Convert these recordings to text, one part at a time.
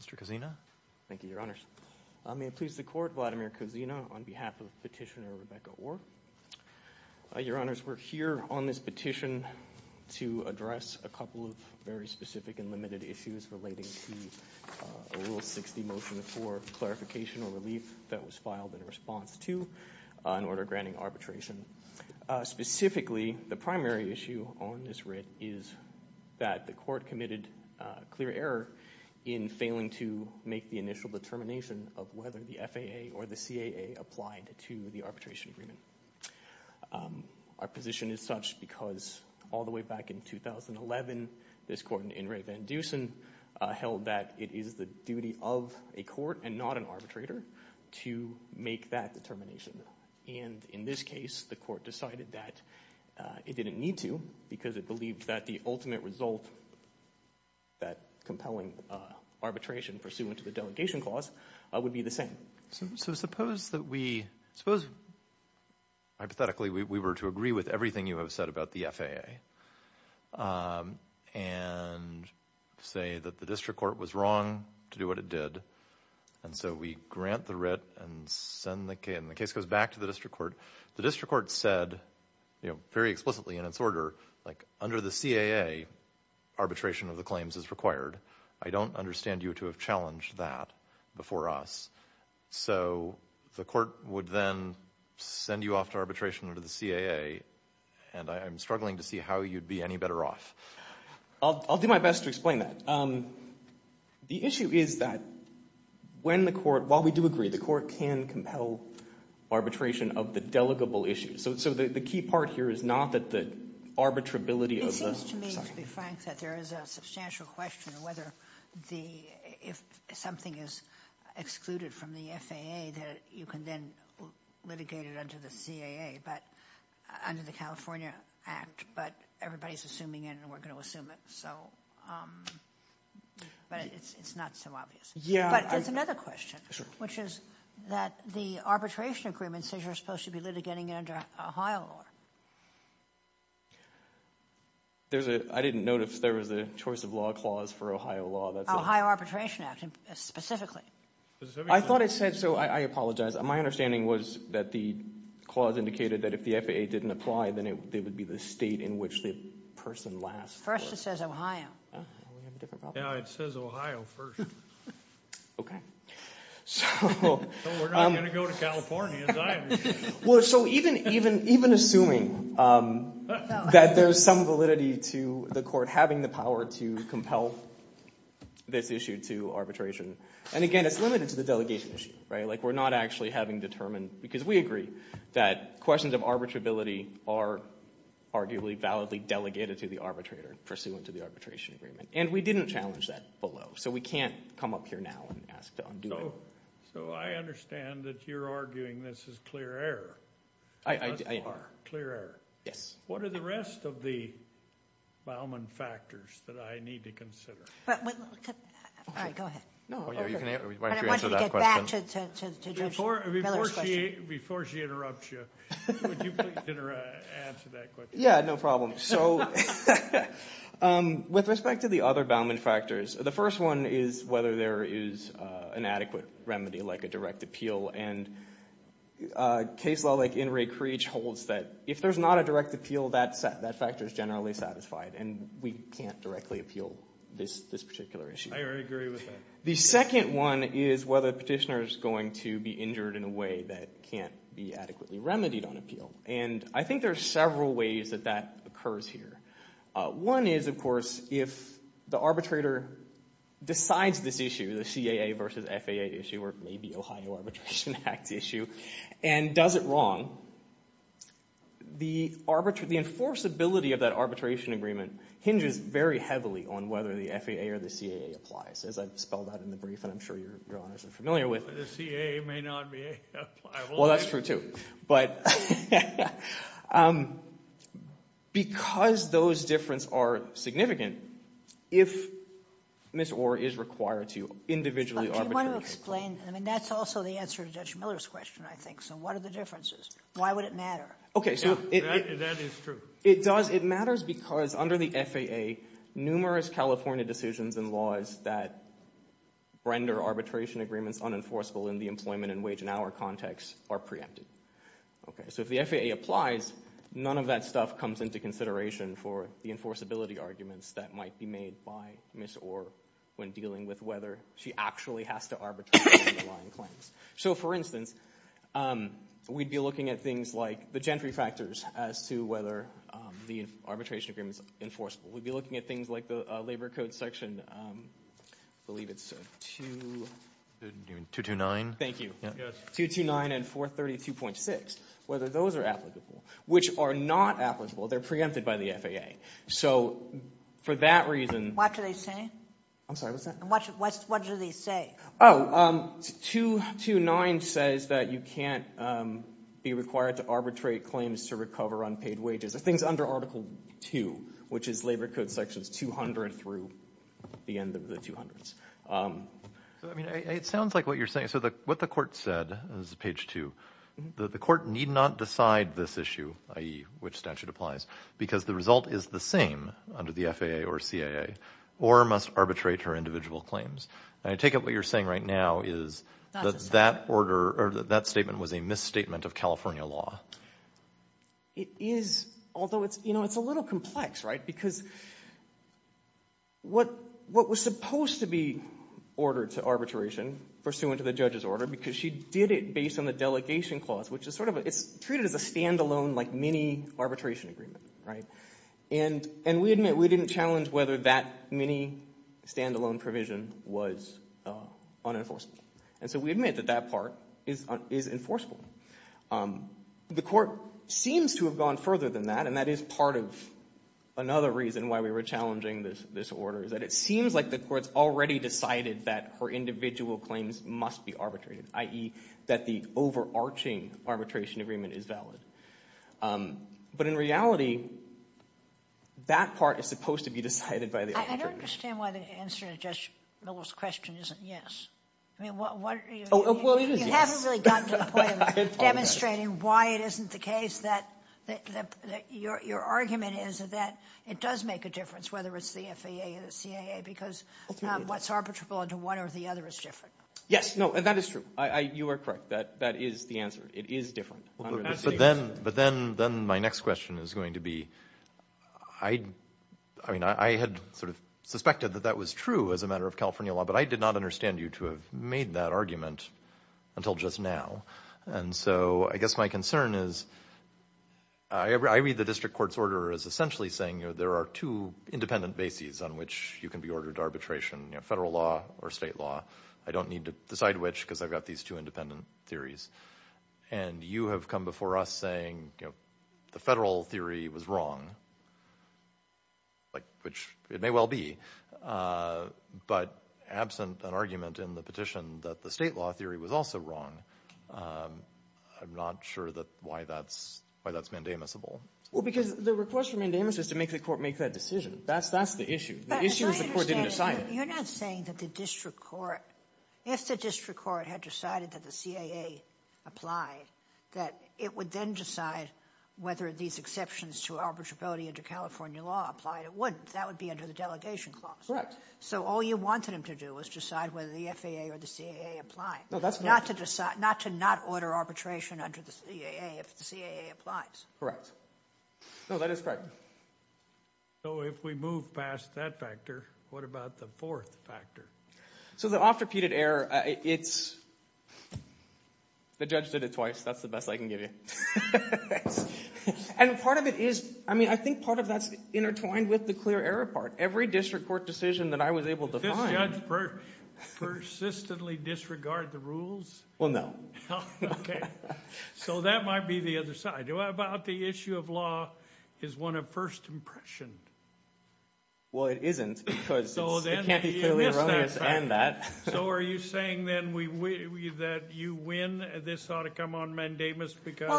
Mr. Cozina. Thank you, Your Honors. May it please the Court, Vladimir Cozina on behalf of Petitioner Rebecca Orr. Your Honors, we're here on this petition to address a couple of very specific and limited issues relating to a Rule 60 motion for clarification or relief that was filed in response to an order granting arbitration. Specifically, the primary issue on this writ is that the Court committed clear error in failing to make the initial determination of whether the FAA or the CAA applied to the arbitration agreement. Our position is such because all the way back in 2011, this Court in Ray Van Dusen held that it is the duty of a court and not an arbitrator to make that determination. And in this case, the Court decided that it didn't need to because it believed that the ultimate result, that compelling arbitration pursuant to the delegation clause, would be the same. So suppose that we, hypothetically, we were to agree with everything you have said about the FAA and say that the District Court was wrong to do what it did. And so we grant the writ and the case goes back to the District Court. The District Court said, you know, very explicitly in its order, like, under the CAA, arbitration of the claims is required. I don't understand you to have challenged that before us. So the Court would then send you off to arbitration under the CAA, and I'm struggling to see how you'd be any better off. I'll do my best to explain that. The issue is that when the Court – while we do agree, the Court can compel arbitration of the delegable issues. So the key part here is not that the arbitrability of the – It seems to me, to be frank, that there is a substantial question of whether the – if something is excluded from the FAA that you can then litigate it under the CAA, but – under the California Act. But everybody is assuming it, and we're going to assume it, so – but it's not so obvious. But there's another question, which is that the arbitration agreement says you're supposed to be litigating it under Ohio law. There's a – I didn't notice there was a choice of law clause for Ohio law. Ohio Arbitration Act, specifically. I thought it said – so I apologize. My understanding was that the clause indicated that if the FAA didn't apply, then it would be the state in which the person lasts. First, it says Ohio. Now it says Ohio first. Okay. So we're not going to go to California either. Well, so even assuming that there's some validity to the court having the power to compel this issue to arbitration – and again, it's limited to the delegation issue. Like we're not actually having determined – because we agree that questions of arbitrability are arguably validly delegated to the arbitrator pursuant to the arbitration agreement. And we didn't challenge that below, so we can't come up here now and ask to undo it. So I understand that you're arguing this is clear error. I – Clear error. Yes. What are the rest of the Bauman factors that I need to consider? All right. Go ahead. You can answer that question. But I want you to get back to Judge Miller's question. Before she interrupts you, would you please answer that question? Yeah, no problem. So with respect to the other Bauman factors, the first one is whether there is an adequate remedy like a direct appeal. And a case law like In re Creech holds that if there's not a direct appeal, that factor is generally satisfied, and we can't directly appeal this particular issue. I agree with that. The second one is whether the petitioner is going to be injured in a way that can't be adequately remedied on appeal. And I think there are several ways that that occurs here. One is, of course, if the arbitrator decides this issue, the CAA versus FAA issue, or maybe Ohio Arbitration Act issue, and does it wrong, the enforceability of that arbitration agreement hinges very heavily on whether the FAA or the CAA applies. As I've spelled out in the brief, and I'm sure your honors are familiar with it. The CAA may not be applicable. Well, that's true too. But because those differences are significant, if Ms. Orr is required to individually arbitrate. Do you want to explain? I mean, that's also the answer to Judge Miller's question, I think. So what are the differences? Why would it matter? That is true. It does. It matters because under the FAA, numerous California decisions and laws that render arbitration agreements unenforceable in the employment and wage and hour context are preempted. So if the FAA applies, none of that stuff comes into consideration for the enforceability arguments that might be made by Ms. Orr when dealing with whether she actually has to arbitrate underlying claims. So, for instance, we'd be looking at things like the gentry factors as to whether the arbitration agreement is enforceable. We'd be looking at things like the labor code section, I believe it's 229. Thank you. 229 and 432.6, whether those are applicable, which are not applicable. They're preempted by the FAA. So for that reason. What do they say? I'm sorry, what's that? What do they say? Oh, 229 says that you can't be required to arbitrate claims to recover unpaid wages. I think it's under Article 2, which is labor code sections 200 through the end of the 200s. I mean, it sounds like what you're saying. So what the court said is page 2. The court need not decide this issue, i.e., which statute applies, because the result is the same under the FAA or CAA. Orr must arbitrate her individual claims. I take it what you're saying right now is that that order or that statement was a misstatement of California law. It is, although it's a little complex, right, because what was supposed to be ordered to arbitration, pursuant to the judge's order, because she did it based on the delegation clause, which is sort of treated as a standalone mini-arbitration agreement. And we admit we didn't challenge whether that mini-standalone provision was unenforceable. And so we admit that that part is enforceable. The court seems to have gone further than that, and that is part of another reason why we were challenging this order, is that it seems like the court's already decided that her individual claims must be arbitrated, i.e., that the overarching arbitration agreement is valid. But in reality, that part is supposed to be decided by the arbitrator. I don't understand why the answer to Judge Miller's question isn't yes. I mean, what are you— Oh, well, it is yes. You haven't really gotten to the point of demonstrating why it isn't the case. Your argument is that it does make a difference, whether it's the FAA or the CAA, because what's arbitrable under one or the other is different. Yes, no, and that is true. You are correct. That is the answer. It is different. But then my next question is going to be— I mean, I had sort of suspected that that was true as a matter of California law, but I did not understand you to have made that argument until just now. And so I guess my concern is I read the district court's order as essentially saying there are two independent bases on which you can be ordered to arbitration, federal law or state law. I don't need to decide which because I've got these two independent theories. And you have come before us saying the federal theory was wrong, which it may well be. But absent an argument in the petition that the state law theory was also wrong, I'm not sure why that's mandamusable. Well, because the request for mandamus is to make the court make that decision. That's the issue. The issue is the court didn't assign it. You're not saying that the district court— If the district court had decided that the CAA applied, that it would then decide whether these exceptions to arbitrability under California law applied. It wouldn't. That would be under the delegation clause. Correct. So all you wanted them to do was decide whether the FAA or the CAA applied, not to not order arbitration under the CAA if the CAA applies. Correct. No, that is correct. So if we move past that factor, what about the fourth factor? So the oft-repeated error, it's—the judge did it twice. That's the best I can give you. And part of it is—I mean, I think part of that's intertwined with the clear error part. Every district court decision that I was able to find— Did this judge persistently disregard the rules? Well, no. Okay. So that might be the other side. What about the issue of law is one of first impression? Well, it isn't because it can't be clearly erroneous and that. So are you saying, then, that you win? This ought to come on mandamus because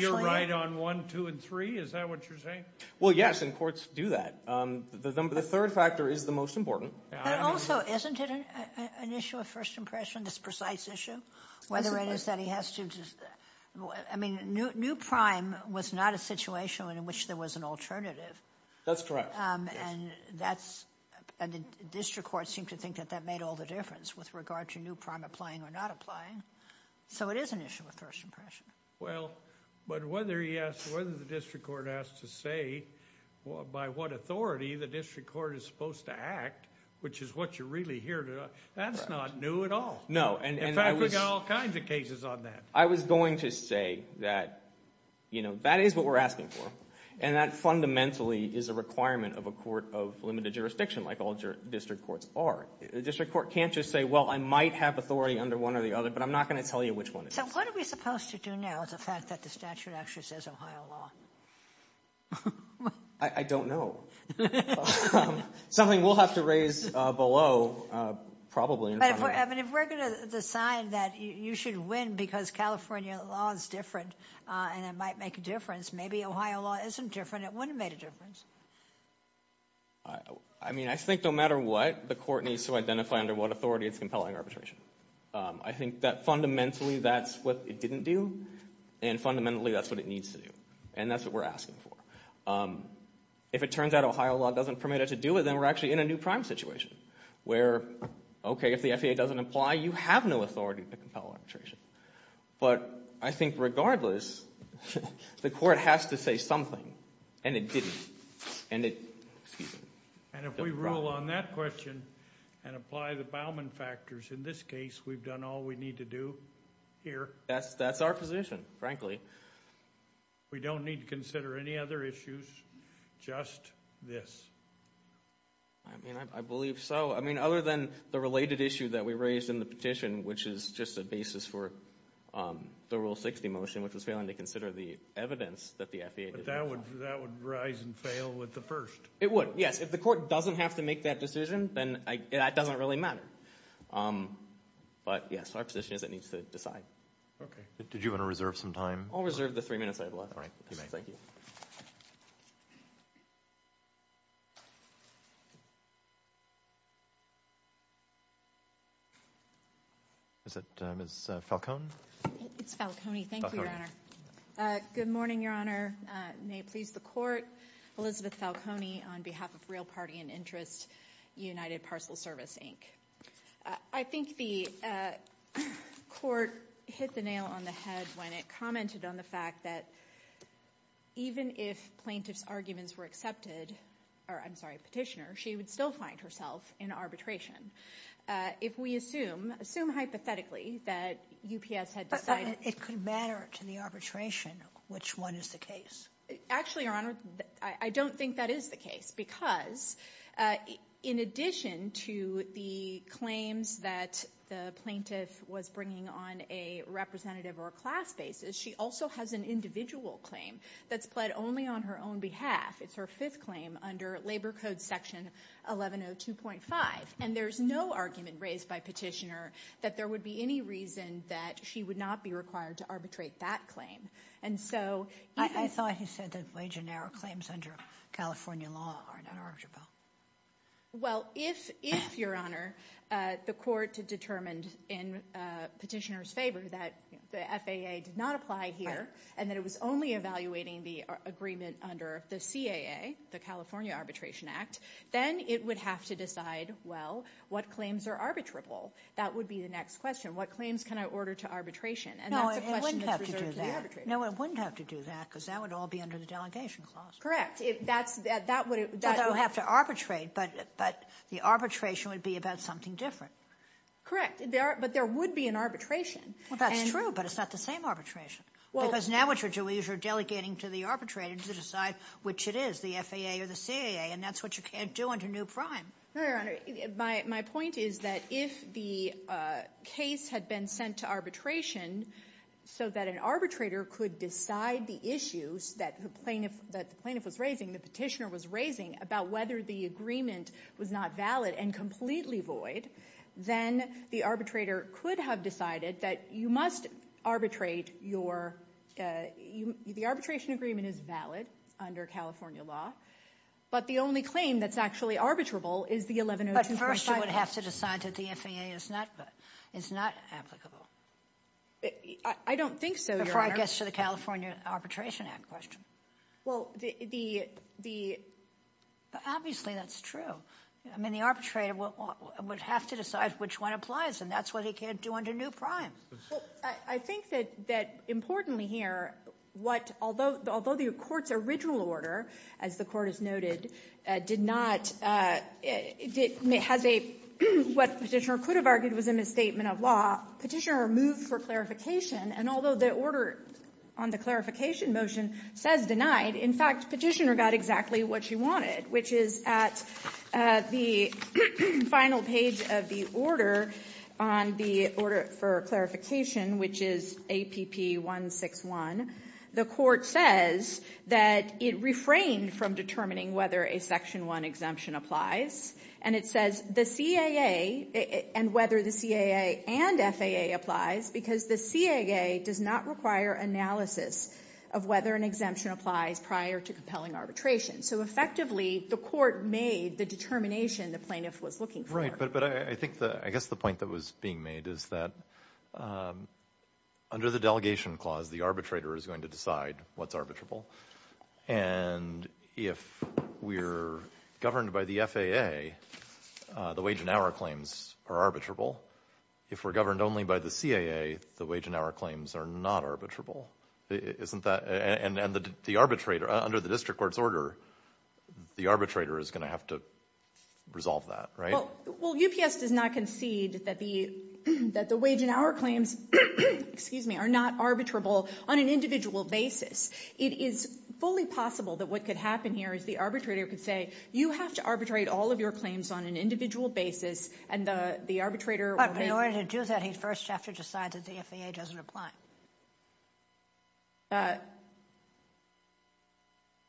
you're right on one, two, and three? Is that what you're saying? Well, yes, and courts do that. The third factor is the most important. But also, isn't it an issue of first impression, this precise issue, whether it is that he has to just— I mean, New Prime was not a situation in which there was an alternative. That's correct. And that's—and the district courts seem to think that that made all the difference with regard to New Prime applying or not applying. So it is an issue of first impression. Well, but whether he asked—whether the district court asked to say by what authority the district court is supposed to act, which is what you're really here to—that's not new at all. No, and I was— In fact, we've got all kinds of cases on that. I was going to say that, you know, that is what we're asking for, and that fundamentally is a requirement of a court of limited jurisdiction, like all district courts are. A district court can't just say, well, I might have authority under one or the other, but I'm not going to tell you which one it is. So what are we supposed to do now with the fact that the statute actually says Ohio law? I don't know. Something we'll have to raise below, probably. But if we're going to decide that you should win because California law is different and it might make a difference, maybe Ohio law isn't different, it wouldn't have made a difference. I mean, I think no matter what, the court needs to identify under what authority it's compelling arbitration. I think that fundamentally that's what it didn't do, and fundamentally that's what it needs to do. And that's what we're asking for. If it turns out Ohio law doesn't permit it to do it, then we're actually in a New Prime situation, where, okay, if the FAA doesn't apply, you have no authority to compel arbitration. But I think regardless, the court has to say something, and it didn't. And if we rule on that question and apply the Bauman factors, in this case we've done all we need to do here. That's our position, frankly. We don't need to consider any other issues, just this. I mean, I believe so. I mean, other than the related issue that we raised in the petition, which is just a basis for the Rule 60 motion, which was failing to consider the evidence that the FAA did not. But that would rise and fail with the first. It would, yes. If the court doesn't have to make that decision, then that doesn't really matter. But, yes, our position is it needs to decide. Okay. Did you want to reserve some time? I'll reserve the three minutes I have left. All right, you may. Thank you. Is it Ms. Falcone? It's Falcone. Thank you, Your Honor. Good morning, Your Honor. May it please the Court. Elizabeth Falcone on behalf of Real Party and Interest, United Parcel Service, Inc. I think the court hit the nail on the head when it commented on the fact that even if plaintiff's arguments were accepted or, I'm sorry, petitioner, she would still find herself in arbitration. If we assume, assume hypothetically that UPS had decided It could matter to the arbitration which one is the case. Actually, Your Honor, I don't think that is the case. Because in addition to the claims that the plaintiff was bringing on a representative or a class basis, she also has an individual claim that's pled only on her own behalf. It's her fifth claim under Labor Code Section 1102.5. And there's no argument raised by petitioner that there would be any reason that she would not be required to arbitrate that claim. I thought he said that wage and error claims under California law are not arbitrable. Well, if, Your Honor, the court determined in petitioner's favor that the FAA did not apply here and that it was only evaluating the agreement under the CAA, the California Arbitration Act, then it would have to decide, well, what claims are arbitrable? That would be the next question. What claims can I order to arbitration? No, it wouldn't have to do that. No, it wouldn't have to do that because that would all be under the delegation clause. Correct. That would have to arbitrate, but the arbitration would be about something different. Correct. But there would be an arbitration. Well, that's true, but it's not the same arbitration. Because now what you're doing is you're delegating to the arbitrator to decide which it is, the FAA or the CAA, and that's what you can't do under new prime. No, Your Honor, my point is that if the case had been sent to arbitration so that an arbitrator could decide the issues that the plaintiff was raising, the petitioner was raising, about whether the agreement was not valid and completely void, then the arbitrator could have decided that you must arbitrate your – the arbitration agreement is valid under California law, but the only claim that's actually arbitrable is the 1102.5. But first you would have to decide that the FAA is not applicable. I don't think so, Your Honor. Before it gets to the California Arbitration Act question. Well, the – Obviously, that's true. I mean, the arbitrator would have to decide which one applies, and that's what he can't do under new prime. Well, I think that, importantly here, what – although the Court's original order, as the Court has noted, did not – has a – what Petitioner could have argued was a misstatement of law, Petitioner moved for clarification, and although the order on the clarification motion says denied, in fact, Petitioner got exactly what she wanted, which is at the final page of the order on the order for clarification, which is APP 161, the Court says that it refrained from determining whether a Section 1 exemption applies, and it says the CAA – and whether the CAA and FAA applies, because the CAA does not require analysis of whether an exemption applies prior to compelling arbitration. So effectively, the Court made the determination the plaintiff was looking for. Right, but I think the – I guess the point that was being made is that under the delegation clause, the arbitrator is going to decide what's arbitrable, and if we're governed by the FAA, the wage and hour claims are arbitrable. If we're governed only by the CAA, the wage and hour claims are not arbitrable. Isn't that – and the arbitrator – under the district court's order, the arbitrator is going to have to resolve that, right? Well, UPS does not concede that the wage and hour claims, excuse me, are not arbitrable on an individual basis. It is fully possible that what could happen here is the arbitrator could say, you have to arbitrate all of your claims on an individual basis, and the arbitrator – So does that mean that he first has to decide that the FAA doesn't apply?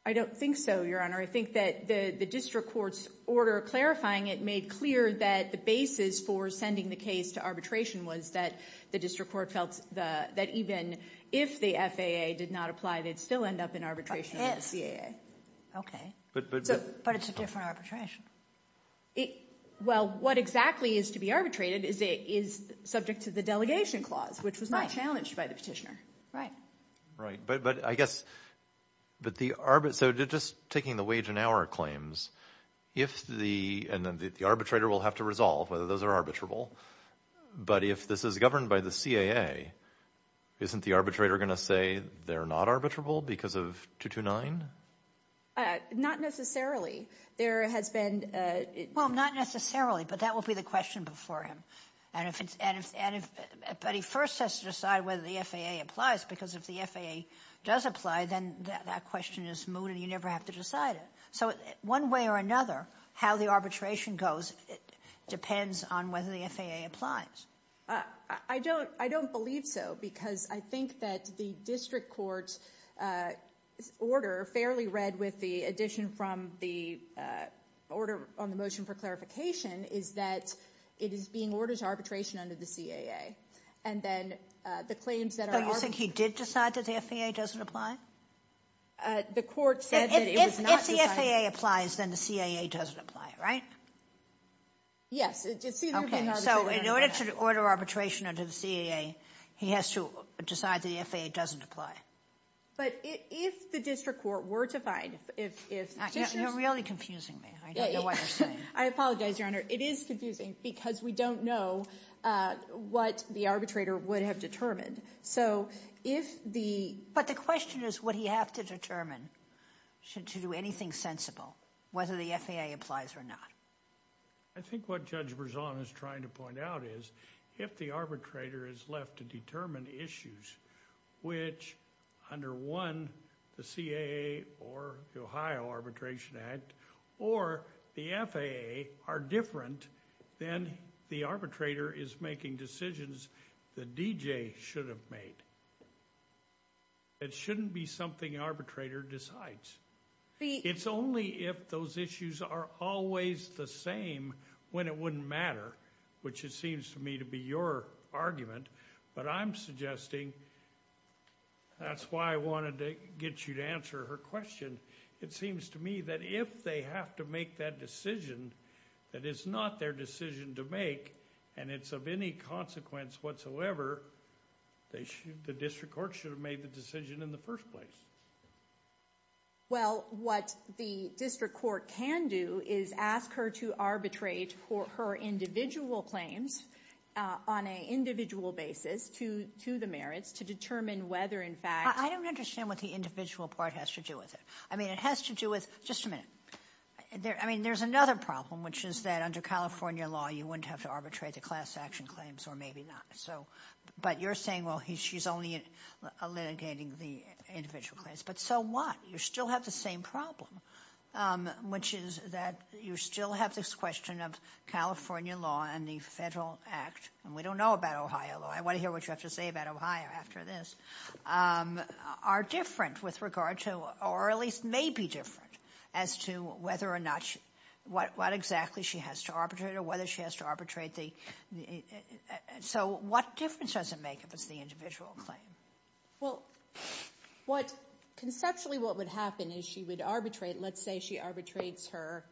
I don't think so, Your Honor. I think that the district court's order clarifying it made clear that the basis for sending the case to arbitration was that the district court felt that even if the FAA did not apply, they'd still end up in arbitration with the CAA. Okay. But it's a different arbitration. Well, what exactly is to be arbitrated is subject to the delegation clause, which was not challenged by the petitioner. Right, but I guess – but the – so just taking the wage and hour claims, if the – and the arbitrator will have to resolve whether those are arbitrable, but if this is governed by the CAA, isn't the arbitrator going to say they're not arbitrable because of 229? Not necessarily. There has been – Well, not necessarily, but that will be the question before him. And if it's – and if – but he first has to decide whether the FAA applies because if the FAA does apply, then that question is moot and you never have to decide it. So one way or another, how the arbitration goes depends on whether the FAA applies. I don't believe so because I think that the district court's order, fairly read with the addition from the order on the motion for clarification, is that it is being ordered to arbitration under the CAA. And then the claims that are – So you think he did decide that the FAA doesn't apply? The court said that it was not – If the FAA applies, then the CAA doesn't apply, right? Yes. Okay, so in order to order arbitration under the CAA, he has to decide the FAA doesn't apply. But if the district court were to find – You're really confusing me. I don't know what you're saying. I apologize, Your Honor. It is confusing because we don't know what the arbitrator would have determined. So if the – But the question is would he have to determine to do anything sensible whether the FAA applies or not. I think what Judge Berzon is trying to point out is if the arbitrator is left to determine issues which under one, the CAA or the Ohio Arbitration Act or the FAA are different, then the arbitrator is making decisions the DJ should have made. It shouldn't be something the arbitrator decides. It's only if those issues are always the same when it wouldn't matter, which it seems to me to be your argument. But I'm suggesting – That's why I wanted to get you to answer her question. It seems to me that if they have to make that decision, that it's not their decision to make and it's of any consequence whatsoever, the district court should have made the decision in the first place. Well, what the district court can do is ask her to arbitrate for her individual claims on an individual basis to the merits to determine whether in fact – I don't understand what the individual part has to do with it. I mean it has to do with – just a minute. I mean there's another problem, which is that under California law, you wouldn't have to arbitrate the class action claims or maybe not. But you're saying, well, she's only litigating the individual claims. But so what? You still have the same problem, which is that you still have this question of California law and the federal act. And we don't know about Ohio law. I want to hear what you have to say about Ohio after this. Are different with regard to – or at least maybe different as to whether or not – what exactly she has to arbitrate or whether she has to arbitrate the – so what difference does it make if it's the individual claim? Well, conceptually what would happen is she would arbitrate. Let's say she arbitrates her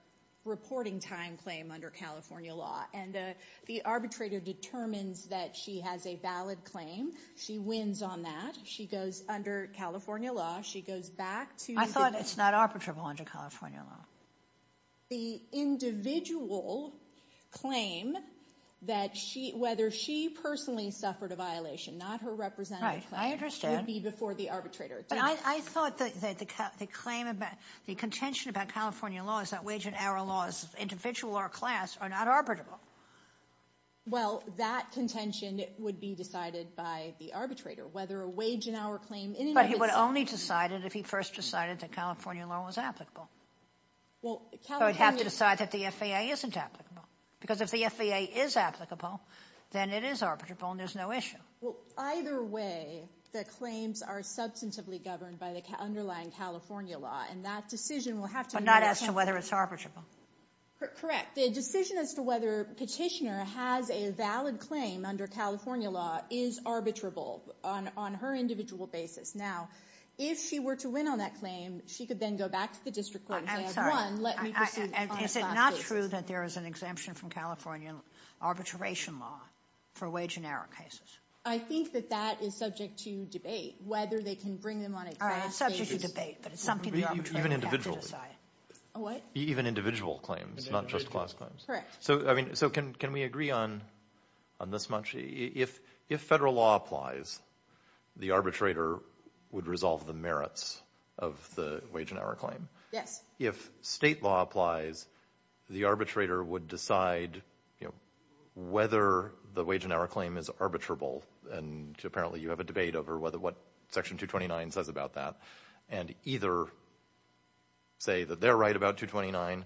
reporting time claim under California law. And the arbitrator determines that she has a valid claim. She wins on that. She goes under California law. She goes back to the – I thought it's not arbitrable under California law. The individual claim that she – whether she personally suffered a violation, not her representative claim. Right, I understand. It would be before the arbitrator. But I thought that the claim about – the contention about California law is that wage and hour laws, individual or class, are not arbitrable. Well, that contention would be decided by the arbitrator. Whether a wage and hour claim – But he would only decide it if he first decided that California law was applicable. He would have to decide that the FAA isn't applicable. Because if the FAA is applicable, then it is arbitrable and there's no issue. Well, either way, the claims are substantively governed by the underlying California law, and that decision will have to – But not as to whether it's arbitrable. Correct. The decision as to whether a petitioner has a valid claim under California law is arbitrable on her individual basis. Now, if she were to win on that claim, she could then go back to the district court and say, I won, let me pursue on a class basis. Is it not true that there is an exemption from California arbitration law for wage and hour cases? I think that that is subject to debate, whether they can bring them on a class basis. All right, it's subject to debate, but it's something the arbitrator would have to decide. What? Even individual claims, not just class claims. Correct. So can we agree on this much? If federal law applies, the arbitrator would resolve the merits of the wage and hour claim. Yes. If state law applies, the arbitrator would decide whether the wage and hour claim is arbitrable, and apparently you have a debate over what Section 229 says about that, and either say that they're right about 229,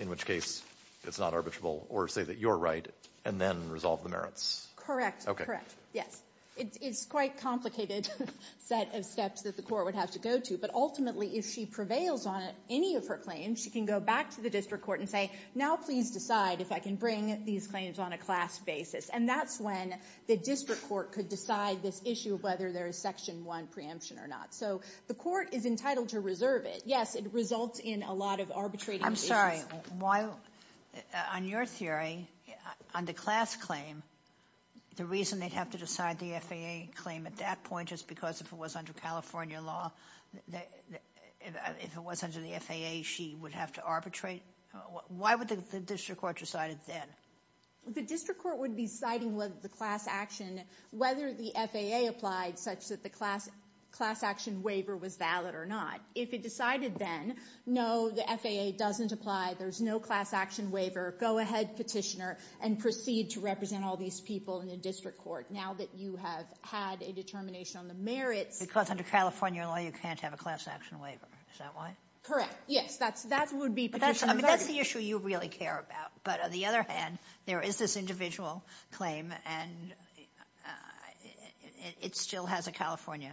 in which case it's not arbitrable, or say that you're right, and then resolve the merits. Correct, correct. Yes. It's quite a complicated set of steps that the court would have to go to, but ultimately if she prevails on any of her claims, she can go back to the district court and say, now please decide if I can bring these claims on a class basis, and that's when the district court could decide this issue of whether there is Section 1 preemption or not. So the court is entitled to reserve it. Yes, it results in a lot of arbitrating. I'm sorry. On your theory, on the class claim, the reason they'd have to decide the FAA claim at that point is because if it was under California law, if it was under the FAA, she would have to arbitrate? Why would the district court decide it then? The district court would be deciding whether the class action, whether the FAA applied such that the class action waiver was valid or not. If it decided then, no, the FAA doesn't apply. There's no class action waiver. Go ahead, petitioner, and proceed to represent all these people in the district court. Now that you have had a determination on the merits. Because under California law, you can't have a class action waiver. Is that right? Correct. Yes, that would be petitioner's argument. That's the issue you really care about. But on the other hand, there is this individual claim, and it still has a California.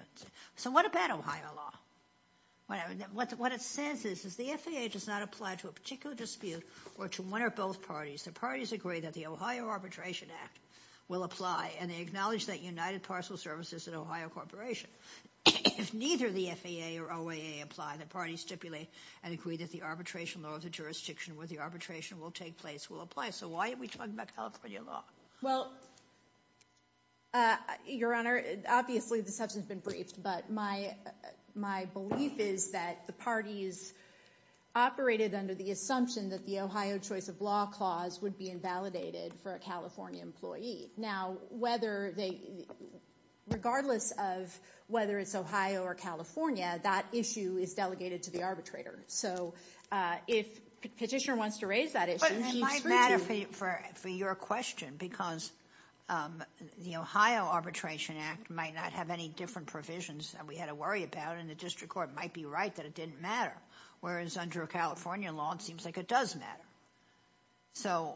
So what about Ohio law? What it says is the FAA does not apply to a particular dispute or to one or both parties. The parties agree that the Ohio Arbitration Act will apply, and they acknowledge that United Parcel Services is an Ohio corporation. If neither the FAA or OAA apply, the parties stipulate and agree that the arbitration law of the jurisdiction where the arbitration will take place will apply. So why are we talking about California law? Well, Your Honor, obviously this hasn't been briefed, but my belief is that the parties operated under the assumption that the Ohio Choice of Law Clause would be invalidated for a California employee. Now, regardless of whether it's Ohio or California, that issue is delegated to the arbitrator. So if petitioner wants to raise that issue, he's free to. For your question, because the Ohio Arbitration Act might not have any different provisions that we had to worry about, and the district court might be right that it didn't matter, whereas under a California law, it seems like it does matter. So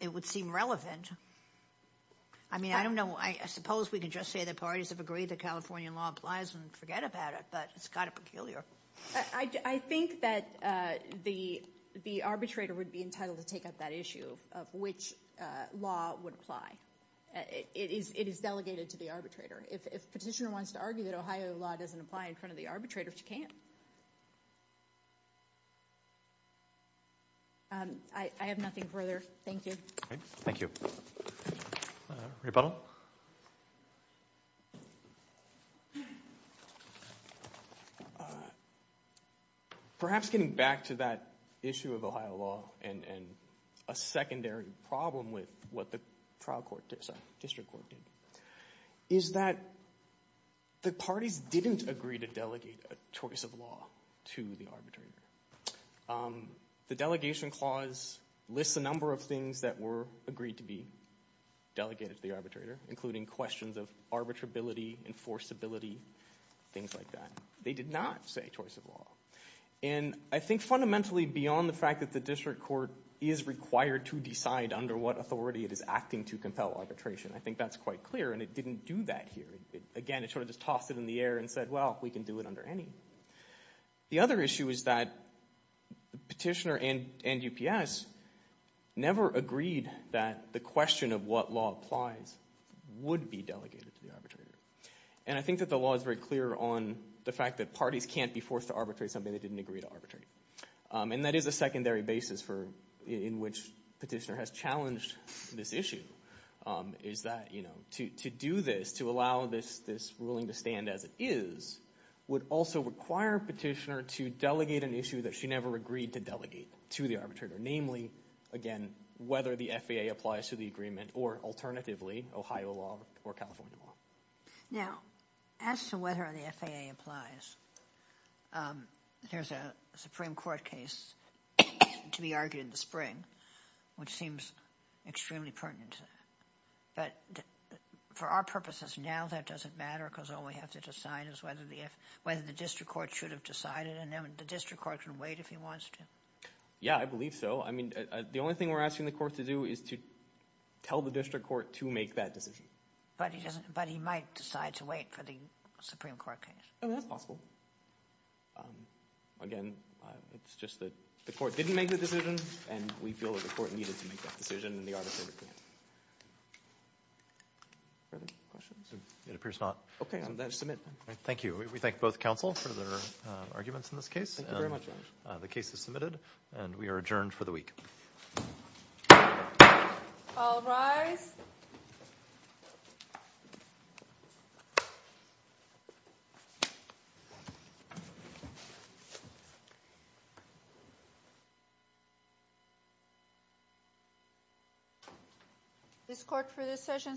it would seem relevant. I mean, I don't know. I suppose we could just say the parties have agreed that California law applies and forget about it, but it's kind of peculiar. I think that the arbitrator would be entitled to take up that issue of which law would apply. It is delegated to the arbitrator. If petitioner wants to argue that Ohio law doesn't apply in front of the arbitrator, she can. I have nothing further. Thank you. Thank you. Rebuttal? Perhaps getting back to that issue of Ohio law and a secondary problem with what the trial court did, sorry, district court did, is that the parties didn't agree to delegate a choice of law to the arbitrator. The delegation clause lists a number of things that were agreed to be delegated to the arbitrator, including questions of arbitrability, enforceability, things like that. They did not say choice of law. And I think fundamentally beyond the fact that the district court is required to decide under what authority it is acting to compel arbitration, I think that's quite clear, and it didn't do that here. Again, it sort of just tossed it in the air and said, well, we can do it under any. The other issue is that petitioner and UPS never agreed that the question of what law applies would be delegated to the arbitrator. And I think that the law is very clear on the fact that parties can't be forced to arbitrate something they didn't agree to arbitrate. And that is a secondary basis in which petitioner has challenged this issue, is that to do this, to allow this ruling to stand as it is, would also require petitioner to delegate an issue that she never agreed to delegate to the arbitrator, namely, again, whether the FAA applies to the agreement or alternatively, Ohio law or California law. Now, as to whether the FAA applies, there's a Supreme Court case to be argued in the spring which seems extremely pertinent. But for our purposes now, that doesn't matter because all we have to decide is whether the district court should have decided and the district court can wait if he wants to. Yeah, I believe so. I mean, the only thing we're asking the court to do is to tell the district court to make that decision. But he might decide to wait for the Supreme Court case. That's possible. Again, it's just that the court didn't make the decision and we feel that the court needed to make that decision and the arbitrator did. Further questions? It appears not. Okay, I'll submit. Thank you. We thank both counsel for their arguments in this case. Thank you very much. The case is submitted and we are adjourned for the week. All rise. This court for this session stands adjourned.